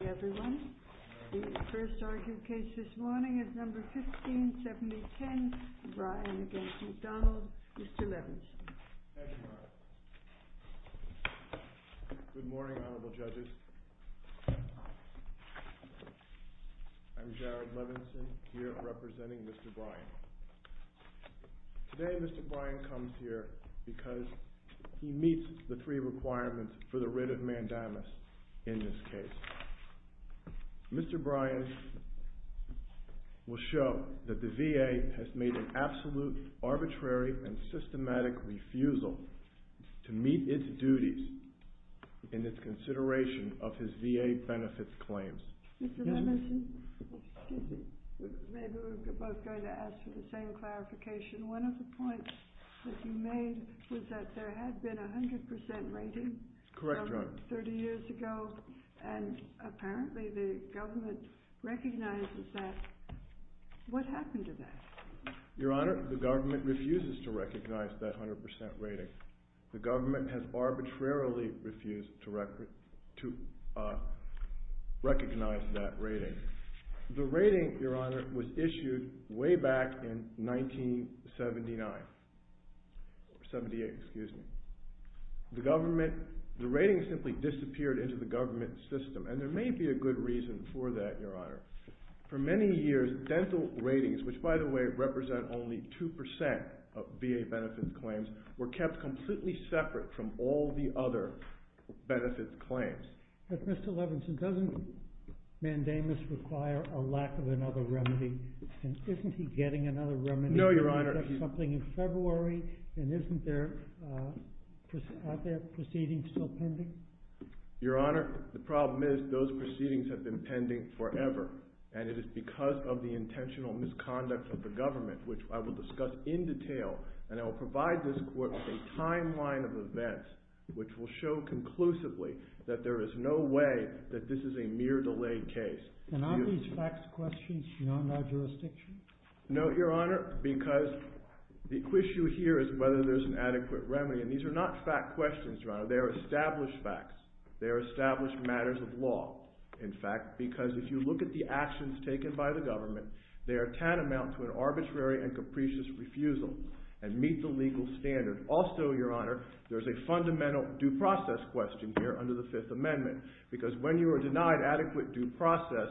Thank you, everyone. The first argued case this morning is No. 157010, Bryan v. McDonald. Mr. Levinson. Thank you, ma'am. Good morning, Honorable Judges. I'm Jared Levinson, here representing Mr. Bryan. Today, Mr. Bryan comes here because he meets the three requirements for the writ of mandamus in this case. Mr. Bryan will show that the VA has made an absolute, arbitrary, and systematic refusal to meet its duties in its consideration of his VA benefits claims. Mr. Levinson, maybe we're both going to ask for the same clarification. One of the points that you made was that there had been a 100% rating 30 years ago, and apparently the government recognizes that. What happened to that? Your Honor, the government refuses to recognize that 100% rating. The government has arbitrarily refused to recognize that rating. The rating, Your Honor, was issued way back in 1978. The rating simply disappeared into the government system, and there may be a good reason for that, Your Honor. For many years, dental ratings, which by the way represent only 2% of VA benefits claims, were kept completely separate from all the other benefits claims. But Mr. Levinson, doesn't mandamus require a lack of another remedy? Isn't he getting another remedy? No, Your Honor. Something in February, and isn't there, are there proceedings still pending? Your Honor, the problem is those proceedings have been pending forever, and it is because of the intentional misconduct of the government, which I will discuss in detail, and I will provide this court with a timeline of events which will show conclusively that there is no way that this is a mere delayed case. And are these facts questions, not by jurisdiction? No, Your Honor, because the issue here is whether there is an adequate remedy, and these are not fact questions, Your Honor. They are established facts. They are established matters of law, in fact, because if you look at the actions taken by the government, they are tantamount to an arbitrary and capricious refusal, and meet the legal standard. Also, Your Honor, there is a fundamental due process question here under the Fifth Amendment, because when you are denied adequate due process,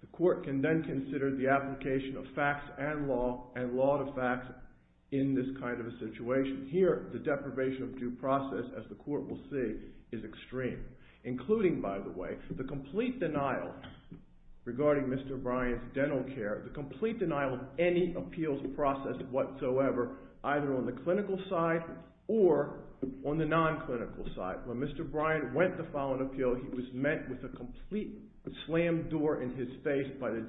the court can then consider the application of facts and law, and law to facts in this kind of a situation. Here, the deprivation of due process, as the court will see, is extreme, including, by the way, the complete denial regarding Mr. Bryant's dental care, the complete denial of any appeals process whatsoever, either on the clinical side or on the non-clinical side. When Mr. Bryant went to file an appeal, he was met with a complete slam door in his face by the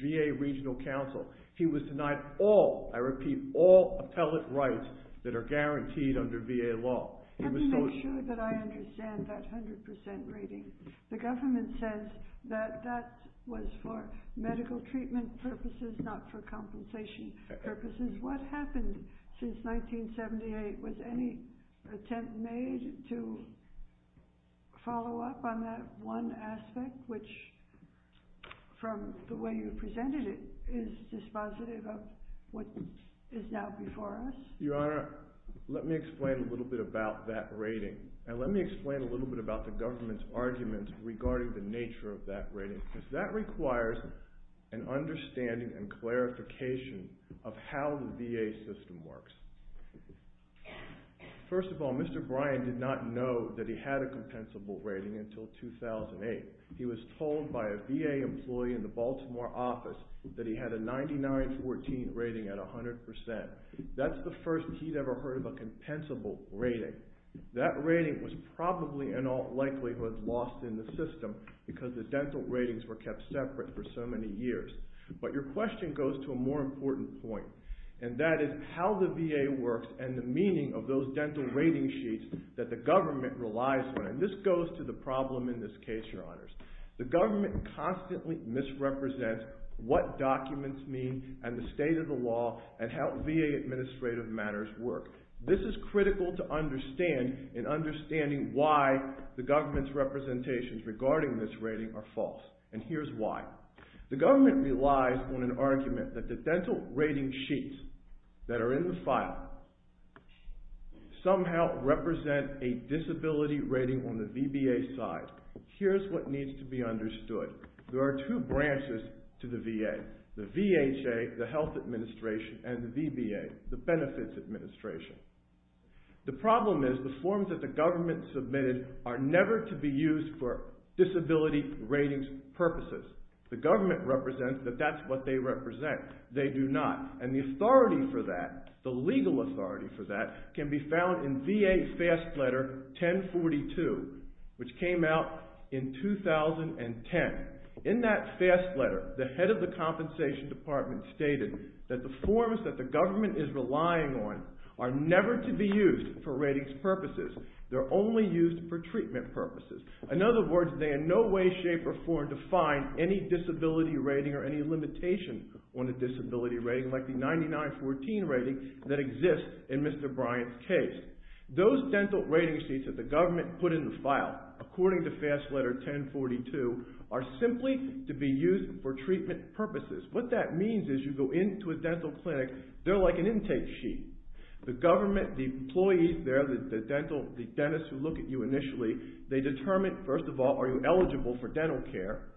GA Regional Council. He was denied all, I repeat, all appellate rights that are guaranteed under VA law. Let me make sure that I understand that 100% rating. The government says that that was for medical treatment purposes, not for compensation purposes. What happened since 1978? Was any attempt made to follow up on that one aspect, which, from the way you presented it, is dispositive of what is now before us? Your Honor, let me explain a little bit about that rating, and let me explain a little bit about the government's argument regarding the nature of that rating, because that requires an understanding and clarification of how the VA system works. First of all, Mr. Bryant did not know that he had a compensable rating until 2008. He was told by a VA employee in the Baltimore office that he had a 99-14 rating at 100%. That's the first he'd ever heard of a compensable rating. That rating was probably in all likelihood lost in the system because the dental ratings were kept separate for so many years. But your question goes to a more important point, and that is how the VA works and the meaning of those dental rating sheets that the government relies on, and this goes to the problem in this case, Your Honors. The government constantly misrepresents what documents mean and the state of the law and how VA administrative matters work. This is critical to understanding why the government's representations regarding this rating are false, and here's why. The government relies on an argument that the dental rating sheets that are in the file somehow represent a disability rating on the VBA side. There are two branches to the VA, the VHA, the Health Administration, and the VBA, the Benefits Administration. The problem is the forms that the government submitted are never to be used for disability ratings purposes. The government represents that that's what they represent. They do not, and the authority for that, the legal authority for that, can be found in VA F.A.S.T. Letter 1042, which came out in 2010. In that F.A.S.T. Letter, the head of the compensation department stated that the forms that the government is relying on are never to be used for ratings purposes. They're only used for treatment purposes. In other words, they in no way, shape, or form define any disability rating or any limitation on a disability rating like the 9914 rating that exists in Mr. Bryant's case. Those dental rating sheets that the government put in the file, according to F.A.S.T. Letter 1042, are simply to be used for treatment purposes. What that means is you go into a dental clinic, they're like an intake sheet. The government, the employees there, the dentists who look at you initially, they determine, first of all, are you eligible for dental care?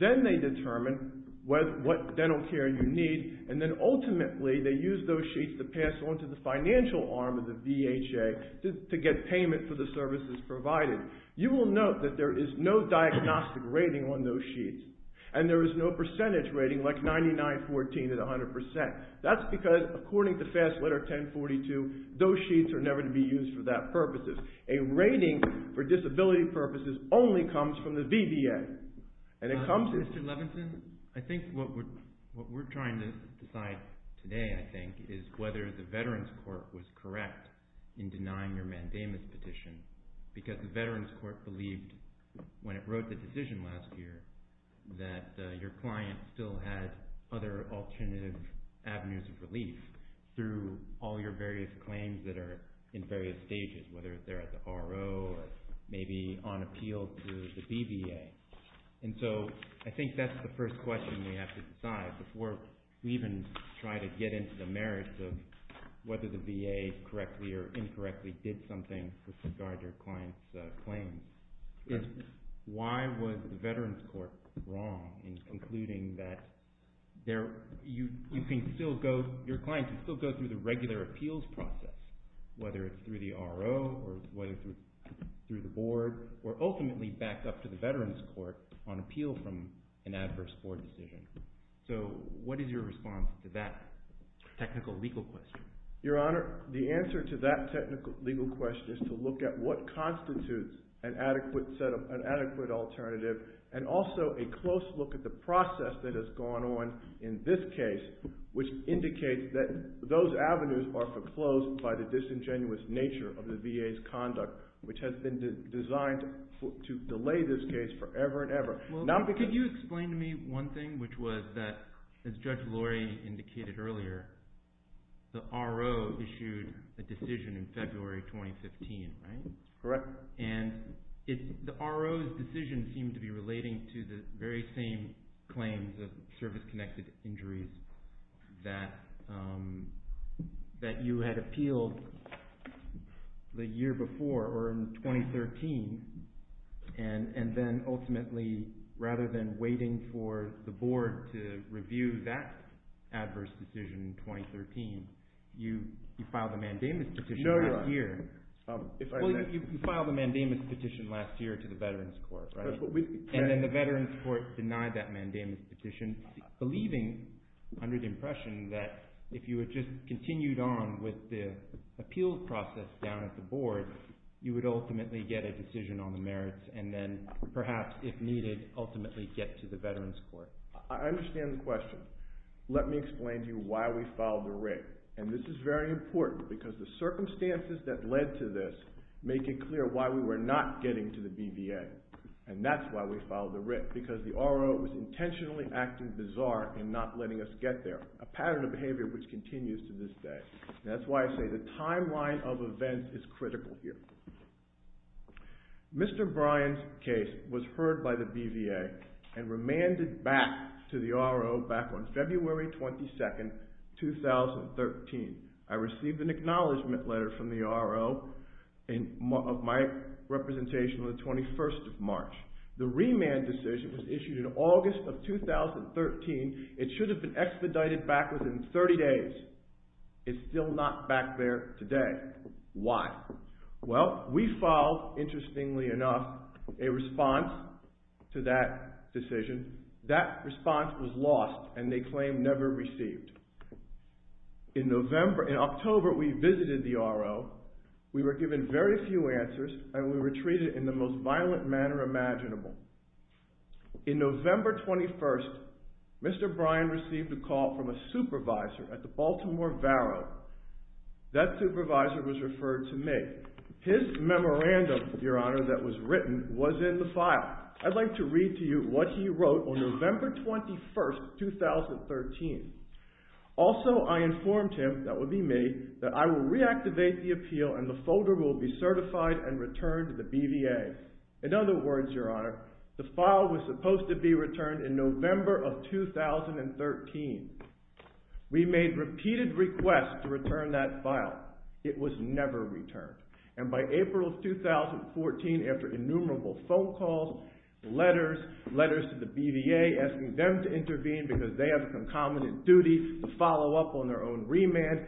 Then they determine what dental care you need, and then ultimately, they use those sheets to pass on to the financial arm of the VHA to get payment for the services provided. You will note that there is no diagnostic rating on those sheets, and there is no percentage rating like 9914 at 100%. That's because, according to F.A.S.T. Letter 1042, those sheets are never to be used for that purposes. A rating for disability purposes only comes from the VBA. Mr. Levinson, I think what we're trying to decide today, I think, is whether the Veterans Court was correct in denying your mandamus petition, because the Veterans Court believed, when it wrote the decision last year, that your client still had other alternative avenues of relief through all your various claims that are in various stages, whether they're at the R.O. or maybe on appeal to the VBA. I think that's the first question we have to decide before we even try to get into the merits of whether the V.A. correctly or incorrectly did something with regard to your client's claims, is why was the Veterans Court wrong in concluding that your client can still go through the regular appeals process, whether it's through the R.O. or whether it's through the board, or ultimately backed up to the Veterans Court on appeal from an adverse court decision. So what is your response to that technical legal question? Your Honor, the answer to that technical legal question is to look at what constitutes an adequate alternative and also a close look at the process that has gone on in this case, which indicates that those avenues are foreclosed by the disingenuous nature of the V.A.'s conduct, which has been designed to delay this case forever and ever. Could you explain to me one thing, which was that, as Judge Lori indicated earlier, the R.O. issued a decision in February 2015, right? Correct. And the R.O.'s decision seemed to be relating to the very same claims of service-connected injuries that you had appealed the year before, or in 2013, and then ultimately, rather than waiting for the board to review that adverse decision in 2013, you filed a mandamus decision that year. Well, you filed a mandamus petition last year to the Veterans Court, right? And then the Veterans Court denied that mandamus petition, believing, under the impression, that if you had just continued on with the appeal process down at the board, you would ultimately get a decision on the merits and then, perhaps, if needed, ultimately get to the Veterans Court. I understand the question. Let me explain to you why we filed the rig. And this is very important because the circumstances that led to this make it clear why we were not getting to the BVA. And that's why we filed the rig, because the R.O. was intentionally acting bizarre and not letting us get there, a pattern of behavior which continues to this day. That's why I say the timeline of events is critical here. Mr. Bryan's case was heard by the BVA and remanded back to the R.O. back on February 22, 2013. I received an acknowledgment letter from the R.O. of my representation on the 21st of March. The remand decision was issued in August of 2013. It should have been expedited back within 30 days. It's still not back there today. Why? Well, we filed, interestingly enough, a response to that decision. That response was lost, and they claim never received. In October, we visited the R.O. We were given very few answers, and we were treated in the most violent manner imaginable. In November 21st, Mr. Bryan received a call from a supervisor at the Baltimore Varo. That supervisor was referred to me. His memorandum, Your Honor, that was written was in the file. I'd like to read to you what he wrote on November 21st, 2013. Also, I informed him, that would be me, that I will reactivate the appeal, and the folder will be certified and returned to the BVA. In other words, Your Honor, the file was supposed to be returned in November of 2013. We made repeated requests to return that file. It was never returned. And by April of 2014, after innumerable phone calls, letters, letters to the BVA, asking them to intervene because they have a concomitant duty to follow up on their own remand,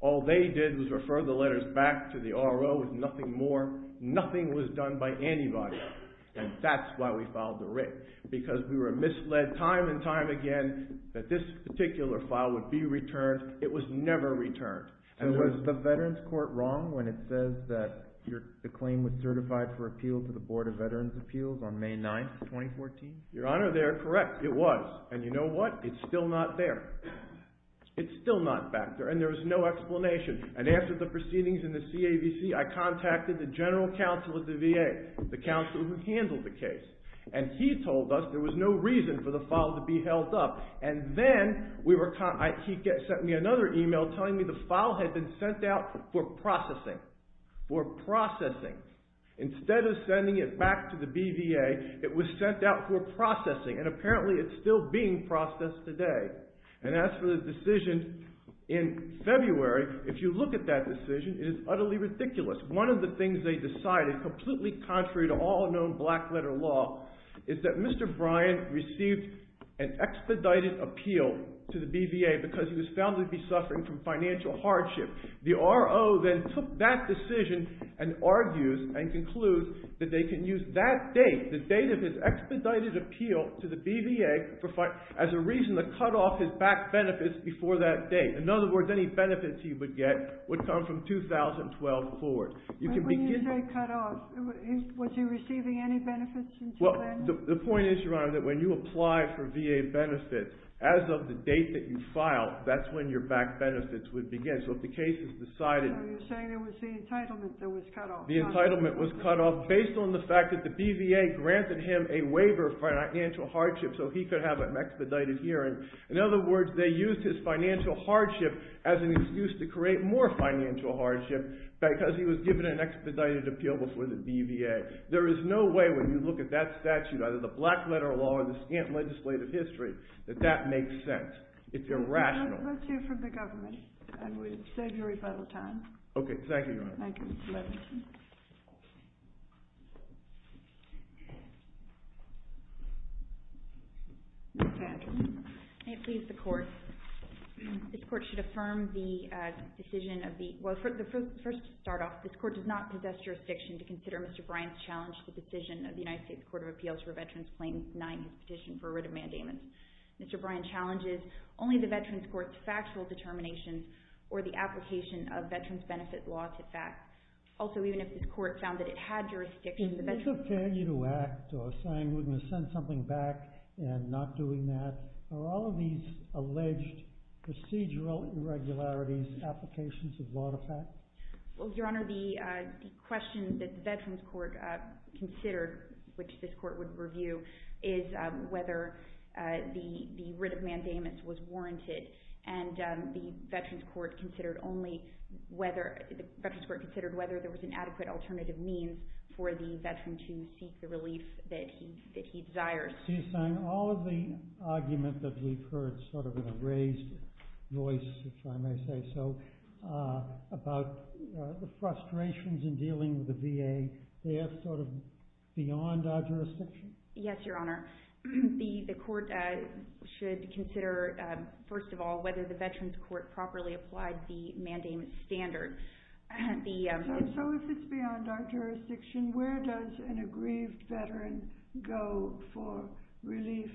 all they did was refer the letters back to the R.O. with nothing more. Nothing was done by anybody, and that's why we filed the writ. Because we were misled time and time again that this particular file would be returned. It was never returned. And was the Veterans Court wrong when it says that the claim was certified for appeal to the Board of Veterans' Appeals on May 9th, 2014? Your Honor, they are correct. It was. And you know what? It's still not there. It's still not back there. And there is no explanation. And after the proceedings in the CAVC, I contacted the general counsel of the VA, the counsel who handled the case. And he told us there was no reason for the file to be held up. And then he sent me another email telling me the file had been sent out for processing. For processing. Instead of sending it back to the BVA, it was sent out for processing. And apparently it's still being processed today. And as for the decision in February, if you look at that decision, it is utterly ridiculous. One of the things they decided, completely contrary to all known black-letter law, is that Mr. Bryan received an expedited appeal to the BVA because he was found to be suffering from financial hardship. The RO then took that decision and argues and concludes that they can use that date, the date of his expedited appeal to the BVA, as a reason to cut off his back benefits before that date. In other words, any benefits he would get would come from 2012 forward. When you say cut off, was he receiving any benefits until then? The point is, Your Honor, that when you apply for VA benefits, as of the date that you file, that's when your back benefits would begin. So if the case is decided... So you're saying it was the entitlement that was cut off. The entitlement was cut off based on the fact that the BVA granted him a waiver of financial hardship so he could have an expedited hearing. In other words, they used his financial hardship as an excuse to create more financial hardship because he was given an expedited appeal before the BVA. There is no way, when you look at that statute, either the black-letter law or the scant legislative history, that that makes sense. It's irrational. Let's hear from the government. And we'll save your rebuttal time. Okay. Thank you, Your Honor. Thank you, Mr. Levinson. Thank you. May it please the Court. This Court should affirm the decision of the... Well, first to start off, this Court does not possess jurisdiction to consider Mr. Bryant's challenge to the decision of the United States Court of Appeals for Veterans Claims 9, his petition for writ of mandamens. Mr. Bryant challenges only the Veterans Court's factual determinations or the application of Veterans Benefit law to fact. Also, even if this Court found that it had jurisdiction... Is this a failure to act or saying we're going to send something back and not doing that? Are all of these alleged procedural irregularities applications of law to fact? Well, Your Honor, the question that the Veterans Court considered, which this Court would review, is whether the writ of mandamens was warranted. And the Veterans Court considered whether there was an adequate alternative means for the veteran to seek the relief that he desires. All of the argument that we've heard, sort of in a raised voice, if I may say so, about the frustrations in dealing with the VA, they are sort of beyond our jurisdiction? Yes, Your Honor. The Court should consider, first of all, whether the Veterans Court properly applied the mandamens standard. So if it's beyond our jurisdiction, where does an aggrieved veteran go for relief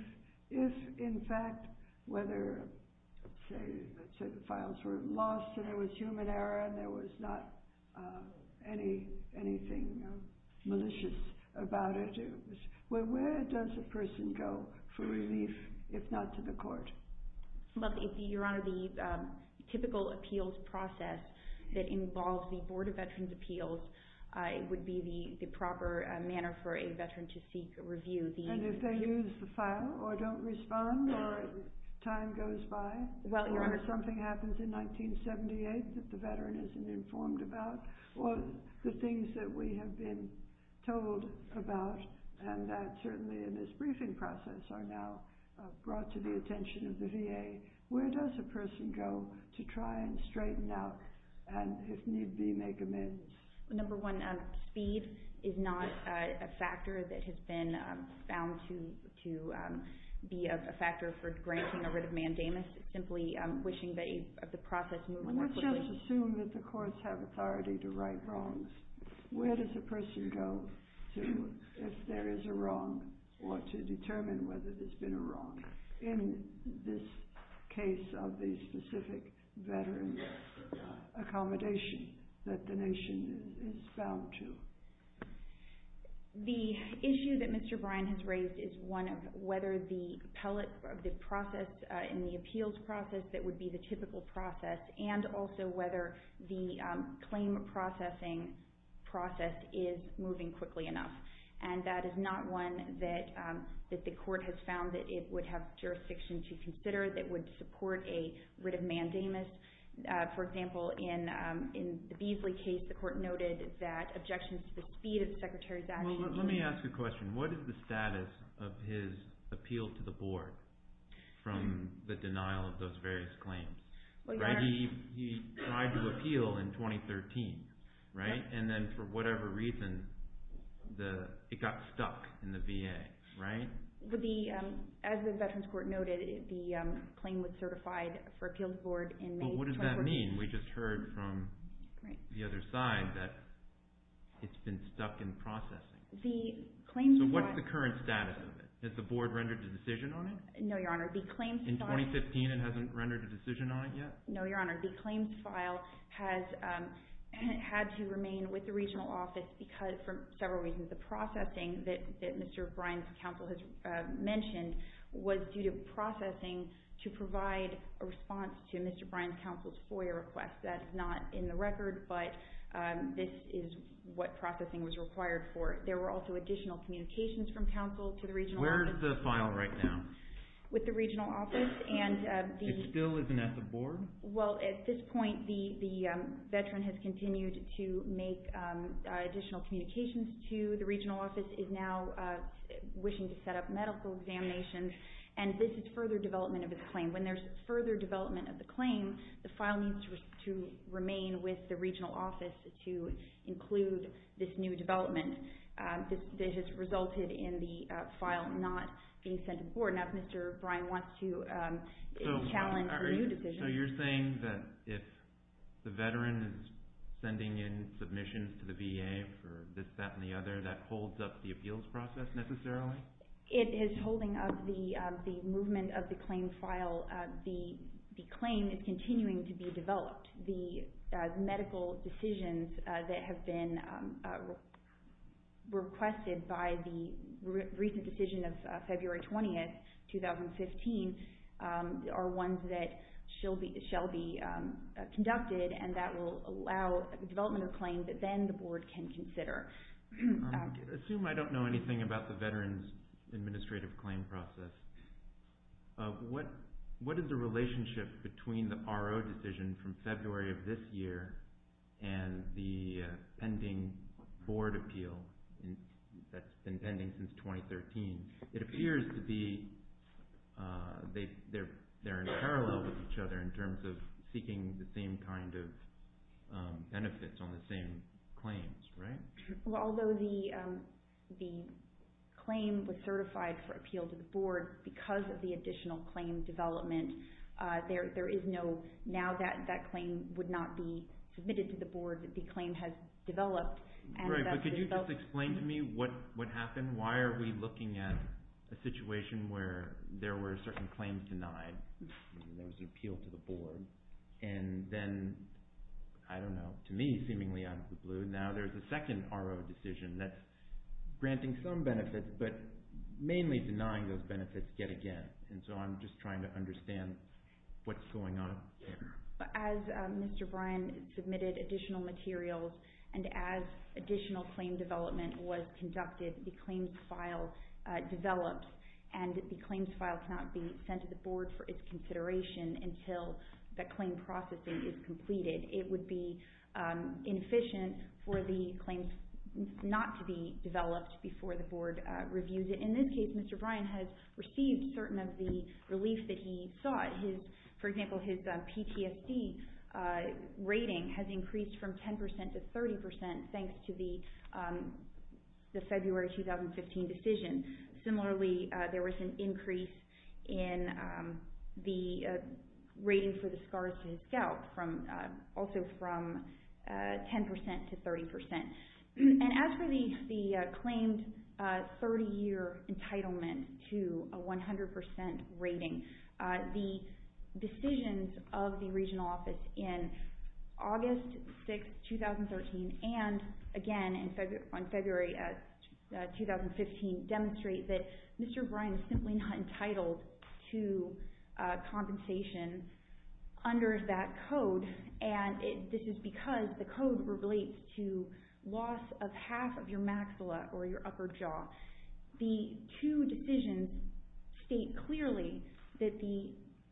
if, in fact, whether, say, the files were lost and it was human error and there was not anything malicious about it? Well, where does a person go for relief if not to the court? Well, Your Honor, the typical appeals process that involves the Board of Veterans' Appeals would be the proper manner for a veteran to seek a review. And if they lose the file or don't respond or time goes by? Well, Your Honor. Or something happens in 1978 that the veteran isn't informed about? Well, the things that we have been told about, and that certainly in this briefing process are now brought to the attention of the VA. Where does a person go to try and straighten out and, if need be, make amends? Number one, speed is not a factor that has been found to be a factor for granting a writ of mandamus. Let's just assume that the courts have authority to write wrongs. Where does a person go if there is a wrong or to determine whether there's been a wrong in this case of the specific veteran accommodation that the nation is bound to? The issue that Mr. Bryan has raised is one of whether the process in the appeals process that would be the typical process and also whether the claim processing process is moving quickly enough. And that is not one that the court has found that it would have jurisdiction to consider that would support a writ of mandamus. For example, in the Beasley case, the court noted that objections to the speed of the Secretary's actions Well, let me ask you a question. What is the status of his appeal to the board from the denial of those various claims? He tried to appeal in 2013, right? And then, for whatever reason, it got stuck in the VA, right? As the Veterans Court noted, the claim was certified for appeal to the board in May 2014. Well, what does that mean? We just heard from the other side that it's been stuck in processing. So what's the current status of it? Has the board rendered a decision on it? No, Your Honor. In 2015, it hasn't rendered a decision on it yet? No, Your Honor. The claims file has had to remain with the regional office for several reasons. The processing that Mr. Bryan's counsel has mentioned was due to processing to provide a response to Mr. Bryan's counsel's FOIA request. That is not in the record, but this is what processing was required for. There were also additional communications from counsel to the regional office. Where is the file right now? With the regional office. It still isn't at the board? Well, at this point, the veteran has continued to make additional communications to the regional office, is now wishing to set up medical examinations, and this is further development of his claim. The file needs to remain with the regional office to include this new development. This has resulted in the file not being sent to the board. Now, if Mr. Bryan wants to challenge a new decision. So you're saying that if the veteran is sending in submissions to the VA for this, that, and the other, that holds up the appeals process necessarily? It is holding up the movement of the claim file. The claim is continuing to be developed. The medical decisions that have been requested by the recent decision of February 20th, 2015, are ones that shall be conducted, and that will allow the development of a claim that then the board can consider. Assume I don't know anything about the veteran's administrative claim process. What is the relationship between the RO decision from February of this year and the pending board appeal that's been pending since 2013? It appears to be they're in parallel with each other in terms of seeking the same kind of benefits on the same claims, right? Although the claim was certified for appeal to the board because of the additional claim development, now that claim would not be submitted to the board that the claim has developed. Right, but could you just explain to me what happened? Why are we looking at a situation where there were certain claims denied? There was an appeal to the board, and then, I don't know, to me, seemingly out of the blue, now there's a second RO decision that's granting some benefits, but mainly denying those benefits yet again. And so I'm just trying to understand what's going on here. As Mr. Bryan submitted additional materials and as additional claim development was conducted, the claims file developed, and the claims file cannot be sent to the board for its consideration until the claim processing is completed. It would be inefficient for the claims not to be developed before the board reviews it. In this case, Mr. Bryan has received certain of the relief that he sought. For example, his PTSD rating has increased from 10% to 30% thanks to the February 2015 decision. Similarly, there was an increase in the rating for the scars to his scalp, also from 10% to 30%. And as for the claimed 30-year entitlement to a 100% rating, the decisions of the regional office in August 6, 2013, and again in February 2015, demonstrate that Mr. Bryan is simply not entitled to compensation under that code, and this is because the code relates to loss of half of your maxilla or your upper jaw. The two decisions state clearly that the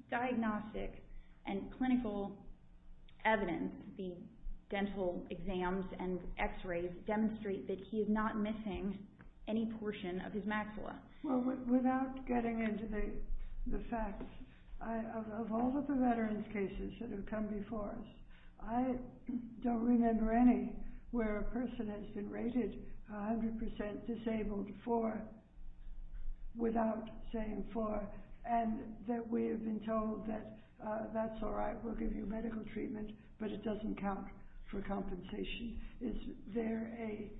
diagnostic and clinical evidence, the dental exams and x-rays, demonstrate that he is not missing any portion of his maxilla. Well, without getting into the facts, of all of the veterans' cases that have come before us, I don't remember any where a person has been rated 100% disabled for, without saying for, and that we have been told that that's all right, we'll give you medical treatment, but it doesn't count for compensation. Is there a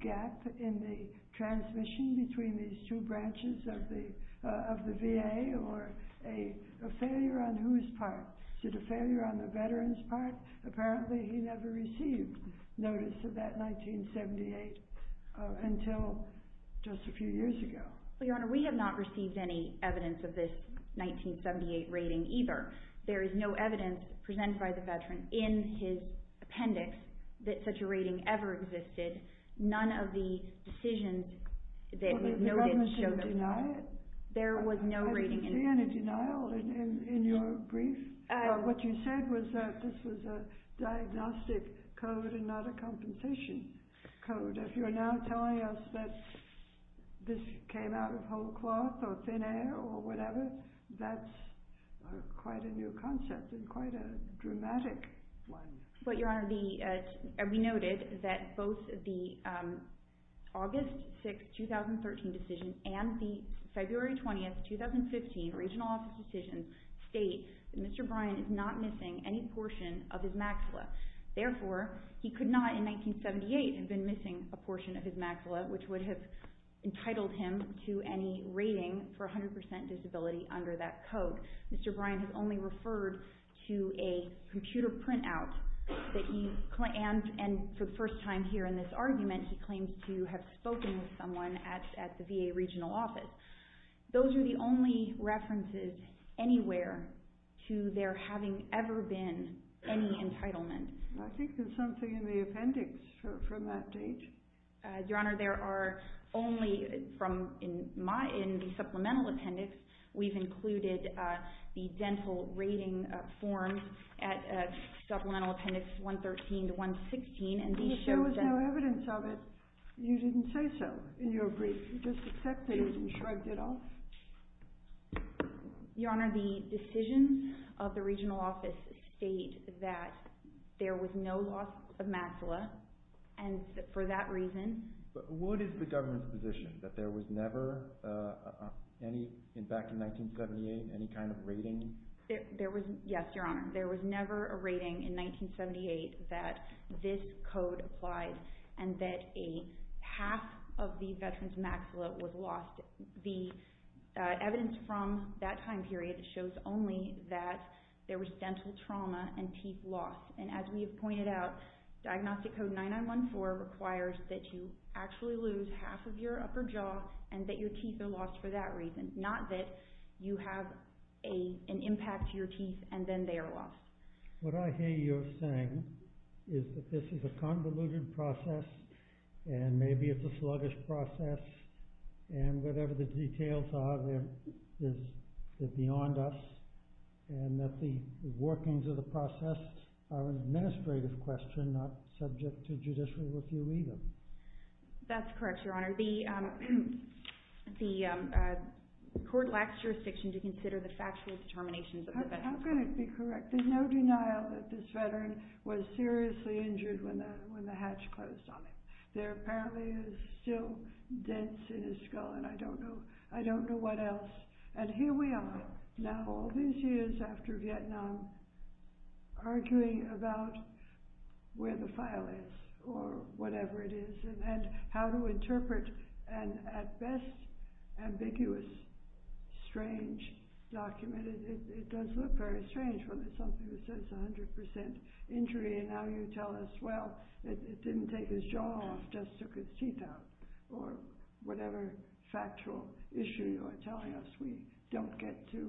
gap in the transmission between these two branches of the VA, or a failure on whose part? Is it a failure on the veteran's part? Apparently he never received notice of that 1978 until just a few years ago. Well, Your Honor, we have not received any evidence of this 1978 rating either. However, there is no evidence presented by the veteran in his appendix that such a rating ever existed. None of the decisions that we've noted show that. There was no rating. I didn't see any denial in your brief. What you said was that this was a diagnostic code and not a compensation code. If you're now telling us that this came out of whole cloth or thin air or whatever, that's quite a new concept and quite a dramatic one. But, Your Honor, we noted that both the August 6, 2013 decision and the February 20, 2015 Regional Office decision state that Mr. Bryan is not missing any portion of his maxilla. Therefore, he could not in 1978 have been missing a portion of his maxilla, which would have entitled him to any rating for 100% disability under that code. Mr. Bryan has only referred to a computer printout, and for the first time here in this argument, he claims to have spoken with someone at the VA Regional Office. Those are the only references anywhere to there having ever been any entitlement. I think there's something in the appendix from that date. Your Honor, there are only from the supplemental appendix. We've included the dental rating form at supplemental appendix 113 to 116. If there was no evidence of it, you didn't say so in your brief. You just accepted it and shrugged it off? Your Honor, the decisions of the Regional Office state that there was no loss of maxilla, and for that reason— But what is the government's position, that there was never, back in 1978, any kind of rating? Yes, Your Honor, there was never a rating in 1978 that this code applies and that half of the veteran's maxilla was lost. The evidence from that time period shows only that there was dental trauma and teeth loss. As we have pointed out, Diagnostic Code 9914 requires that you actually lose half of your upper jaw and that your teeth are lost for that reason, not that you have an impact to your teeth and then they are lost. What I hear you saying is that this is a convoluted process and maybe it's a sluggish process and whatever the details are, they're beyond us and that the workings of the process are an administrative question, not subject to judicial review either. That's correct, Your Honor. The court lacks jurisdiction to consider the factual determinations of the veteran. How can it be correct? There's no denial that this veteran was seriously injured when the hatch closed on him. There apparently is still dents in his skull and I don't know what else. And here we are, now all these years after Vietnam, arguing about where the file is or whatever it is and how to interpret an, at best, ambiguous, strange document. It does look very strange when it's something that says 100% injury and now you tell us, well, it didn't take his jaw off, just took his teeth out. Or whatever factual issue you are telling us, we don't get to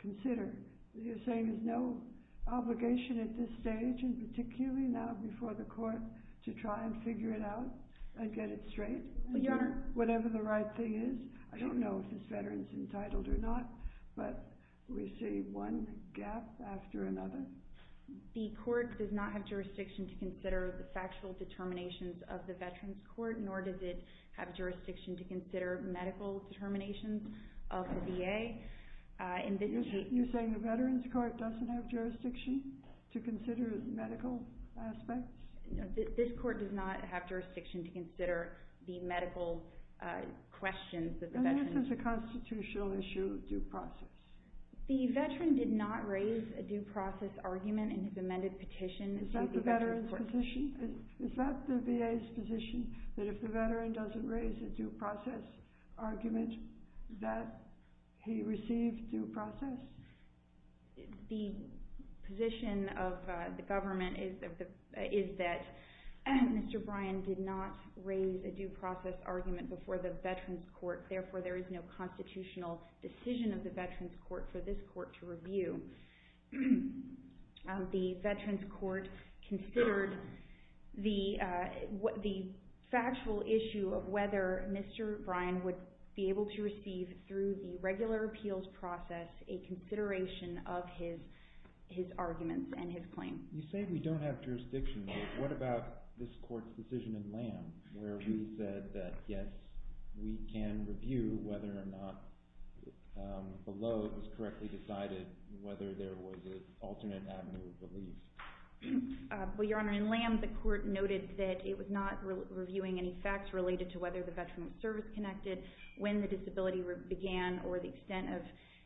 consider. You're saying there's no obligation at this stage, and particularly now before the court, to try and figure it out and get it straight, whatever the right thing is? I don't know if this veteran is entitled or not, but we see one gap after another. The court does not have jurisdiction to consider the factual determinations of the Veterans Court, nor does it have jurisdiction to consider medical determinations of the VA. You're saying the Veterans Court doesn't have jurisdiction to consider medical aspects? This court does not have jurisdiction to consider the medical questions that the veterans... And this is a constitutional issue of due process. The veteran did not raise a due process argument in his amended petition. Is that the VA's position, that if the veteran doesn't raise a due process argument, that he receives due process? The position of the government is that Mr. Bryan did not raise a due process argument before the Veterans Court, therefore there is no constitutional decision of the Veterans Court for this court to review. The Veterans Court considered the factual issue of whether Mr. Bryan would be able to receive, through the regular appeals process, a consideration of his arguments and his claims. You say we don't have jurisdiction, but what about this court's decision in Lamb, where we said that, yes, we can review whether or not, below it was correctly decided, whether there was an alternate avenue of relief? Well, Your Honor, in Lamb, the court noted that it was not reviewing any facts related to whether the veteran was service-connected, when the disability began, or the extent of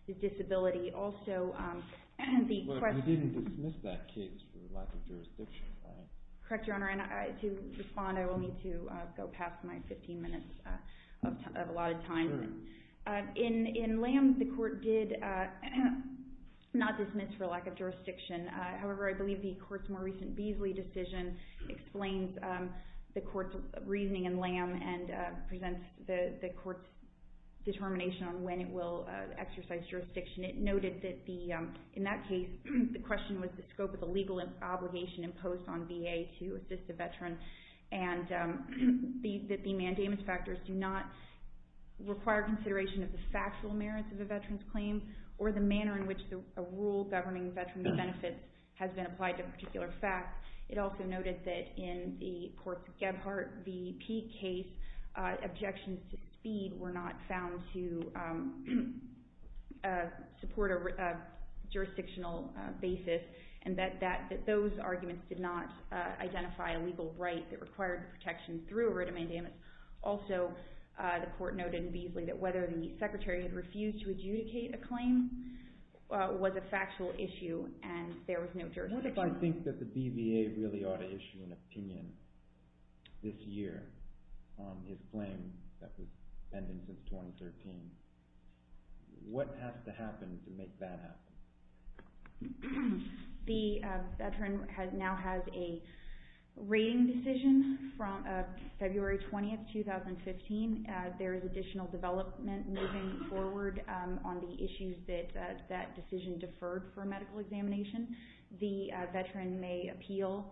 the disability. Also, the question... But you didn't dismiss that case for lack of jurisdiction, right? Correct, Your Honor. To respond, I will need to go past my 15 minutes of allotted time. In Lamb, the court did not dismiss for lack of jurisdiction. However, I believe the court's more recent Beasley decision explains the court's reasoning in Lamb and presents the court's determination on when it will exercise jurisdiction. It noted that, in that case, the question was the scope of the legal obligation imposed on VA to assist a veteran, and that the mandamus factors do not require consideration of the factual merits of a veteran's claim or the manner in which a rule governing veteran's benefits has been applied to a particular fact. It also noted that, in the court's Gebhardt v. Peake case, objections to speed were not found to support a jurisdictional basis, and that those arguments did not identify a legal right that required protection through a written mandamus. Also, the court noted in Beasley that whether the secretary had refused to adjudicate a claim was a factual issue, and there was no jurisdiction. What if I think that the BVA really ought to issue an opinion this year on his claim that was pending since 2013? What has to happen to make that happen? The veteran now has a rating decision from February 20, 2015. There is additional development moving forward on the issues that that decision deferred for medical examination. The veteran may appeal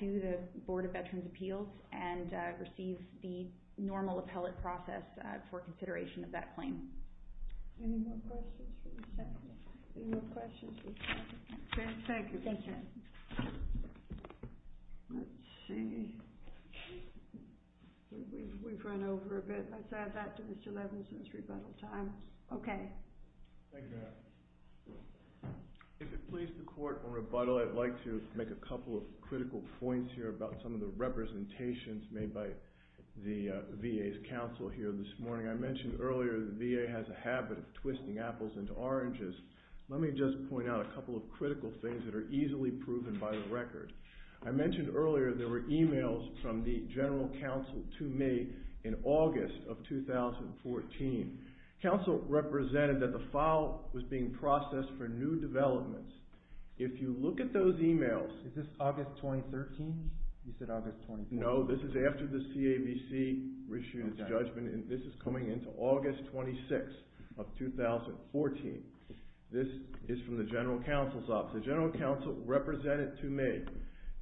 to the Board of Veterans' Appeals and receive the normal appellate process for consideration of that claim. Any more questions for the secretary? Any more questions for the secretary? Thank you. Thank you. Let's see. We've run over a bit. Let's add that to Mr. Levinson's rebuttal time. Okay. Thank you, ma'am. If it pleases the court, on rebuttal, I'd like to make a couple of critical points here about some of the representations made by the VA's counsel here this morning. I mentioned earlier the VA has a habit of twisting apples into oranges. Let me just point out a couple of critical things that are easily proven by the record. I mentioned earlier there were emails from the general counsel to me in August of 2014. Counsel represented that the file was being processed for new developments. If you look at those emails Is this August 2013? You said August 2014. No, this is after the CAVC issued its judgment, and this is coming into August 26 of 2014. This is from the general counsel's office. The general counsel represented to me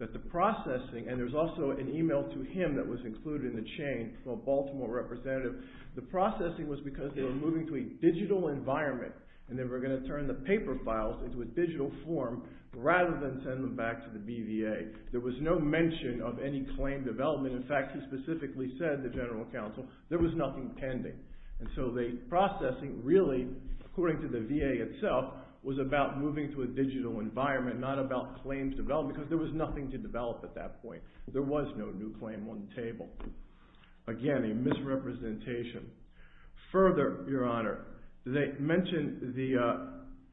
that the processing, and there's also an email to him that was included in the chain from a Baltimore representative. The processing was because they were moving to a digital environment, and they were going to turn the paper files into a digital form rather than send them back to the BVA. There was no mention of any claim development. In fact, he specifically said, the general counsel, there was nothing pending. So the processing really, according to the VA itself, was about moving to a digital environment, not about claims development because there was nothing to develop at that point. There was no new claim on the table. Again, a misrepresentation. Further, Your Honor, the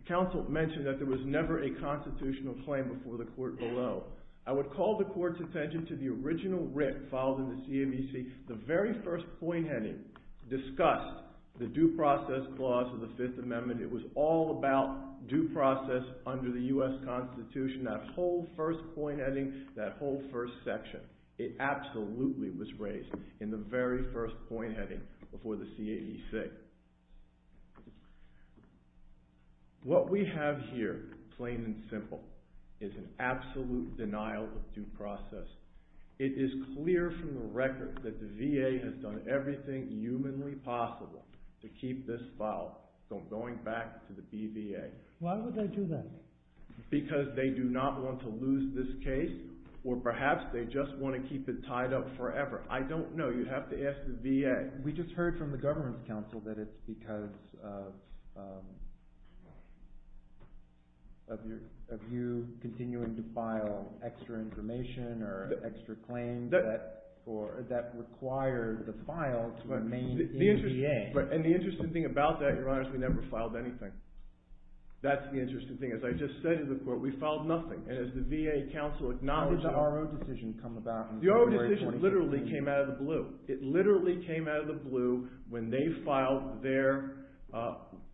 counsel mentioned that there was never a constitutional claim before the court below. I would call the court's attention to the original writ filed in the CAVC. The very first point heading discussed the due process clause of the Fifth Amendment. It was all about due process under the U.S. Constitution. That whole first point heading, that whole first section. It absolutely was raised in the very first point heading before the CAVC. What we have here, plain and simple, is an absolute denial of due process. It is clear from the record that the VA has done everything humanly possible to keep this file from going back to the BVA. Why would they do that? Because they do not want to lose this case, or perhaps they just want to keep it tied up forever. I don't know. You have to ask the VA. We just heard from the government's counsel that it's because of you continuing to file extra information or extra claims that require the file to remain in VA. The interesting thing about that, Your Honor, is we never filed anything. That's the interesting thing. As I just said to the Court, we filed nothing. And as the VA counsel acknowledged- How did the RO decision come about in February 2016? The RO decision literally came out of the blue. It literally came out of the blue when they filed their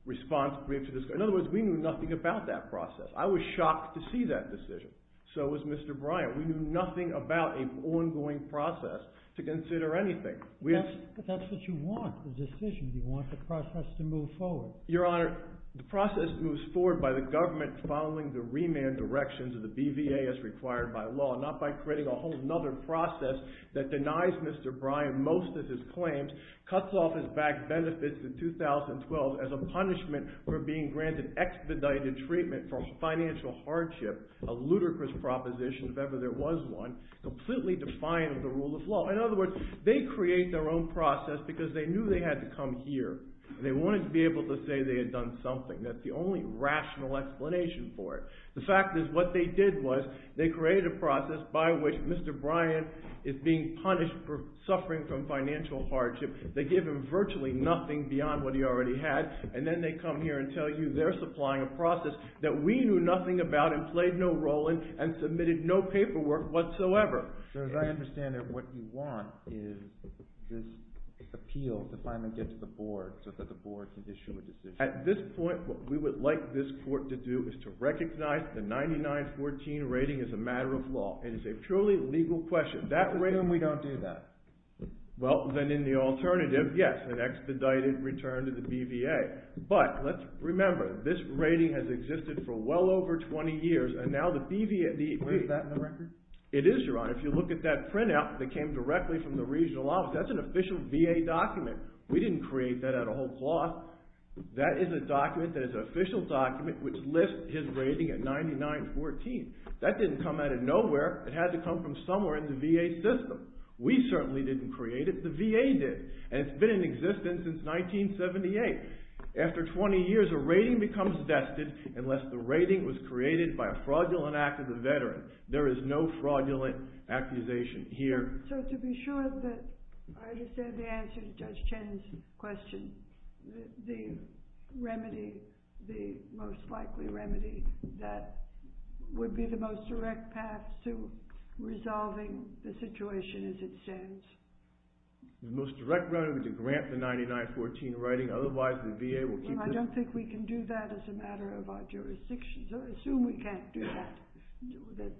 response brief to this. In other words, we knew nothing about that process. I was shocked to see that decision. So was Mr. Bryant. We knew nothing about an ongoing process to consider anything. That's what you want, the decision. You want the process to move forward. Your Honor, the process moves forward by the government following the remand directions of the BVA as required by law, not by creating a whole other process that denies Mr. Bryant most of his claims, cuts off his back benefits in 2012 as a punishment for being granted expedited treatment for financial hardship, a ludicrous proposition if ever there was one, completely defiant of the rule of law. In other words, they create their own process because they knew they had to come here. They wanted to be able to say they had done something. That's the only rational explanation for it. The fact is what they did was they created a process by which Mr. Bryant is being punished for suffering from financial hardship. They give him virtually nothing beyond what he already had. And then they come here and tell you they're supplying a process that we knew nothing about and played no role in and submitted no paperwork whatsoever. So as I understand it, what you want is this appeal to finally get to the board so that the board can issue a decision. At this point, what we would like this court to do is to recognize the 99-14 rating as a matter of law. It is a truly legal question. Assume we don't do that. Well, then in the alternative, yes, an expedited return to the BVA. But let's remember this rating has existed for well over 20 years, and now the BVA— Is that in the record? It is, Your Honor. If you look at that printout that came directly from the regional office, that's an official VA document. We didn't create that out of whole cloth. That is a document that is an official document which lists his rating at 99-14. That didn't come out of nowhere. It had to come from somewhere in the VA system. We certainly didn't create it. The VA did, and it's been in existence since 1978. After 20 years, a rating becomes vested unless the rating was created by a fraudulent act of the veteran. There is no fraudulent accusation here. So to be sure that I understand the answer to Judge Chen's question, the remedy, the most likely remedy that would be the most direct path to resolving the situation as it stands. The most direct route would be to grant the 99-14 rating. Otherwise, the VA will keep— I don't think we can do that as a matter of our jurisdiction. So I assume we can't do that, that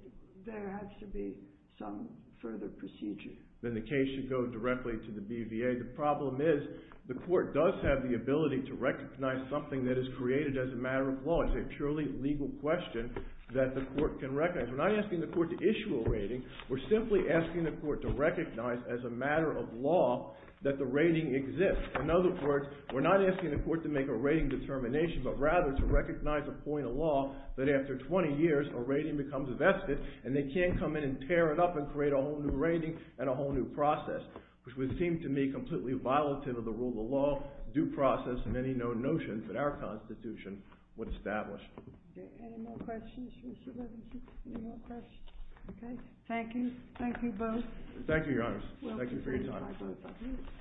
there has to be some further procedure. Then the case should go directly to the BVA. The problem is the court does have the ability to recognize something that is created as a matter of law. It's a purely legal question that the court can recognize. We're not asking the court to issue a rating. We're simply asking the court to recognize as a matter of law that the rating exists. In other words, we're not asking the court to make a rating determination, but rather to recognize a point of law that after 20 years, a rating becomes vested, and they can't come in and tear it up and create a whole new rating and a whole new process, which would seem to me completely violative of the rule of law, due process, many known notions that our Constitution would establish. Any more questions, Mr. Levinson? Any more questions? Okay. Thank you. Thank you both. Thank you, Your Honor. Thank you for your time. Thank you. Thank you.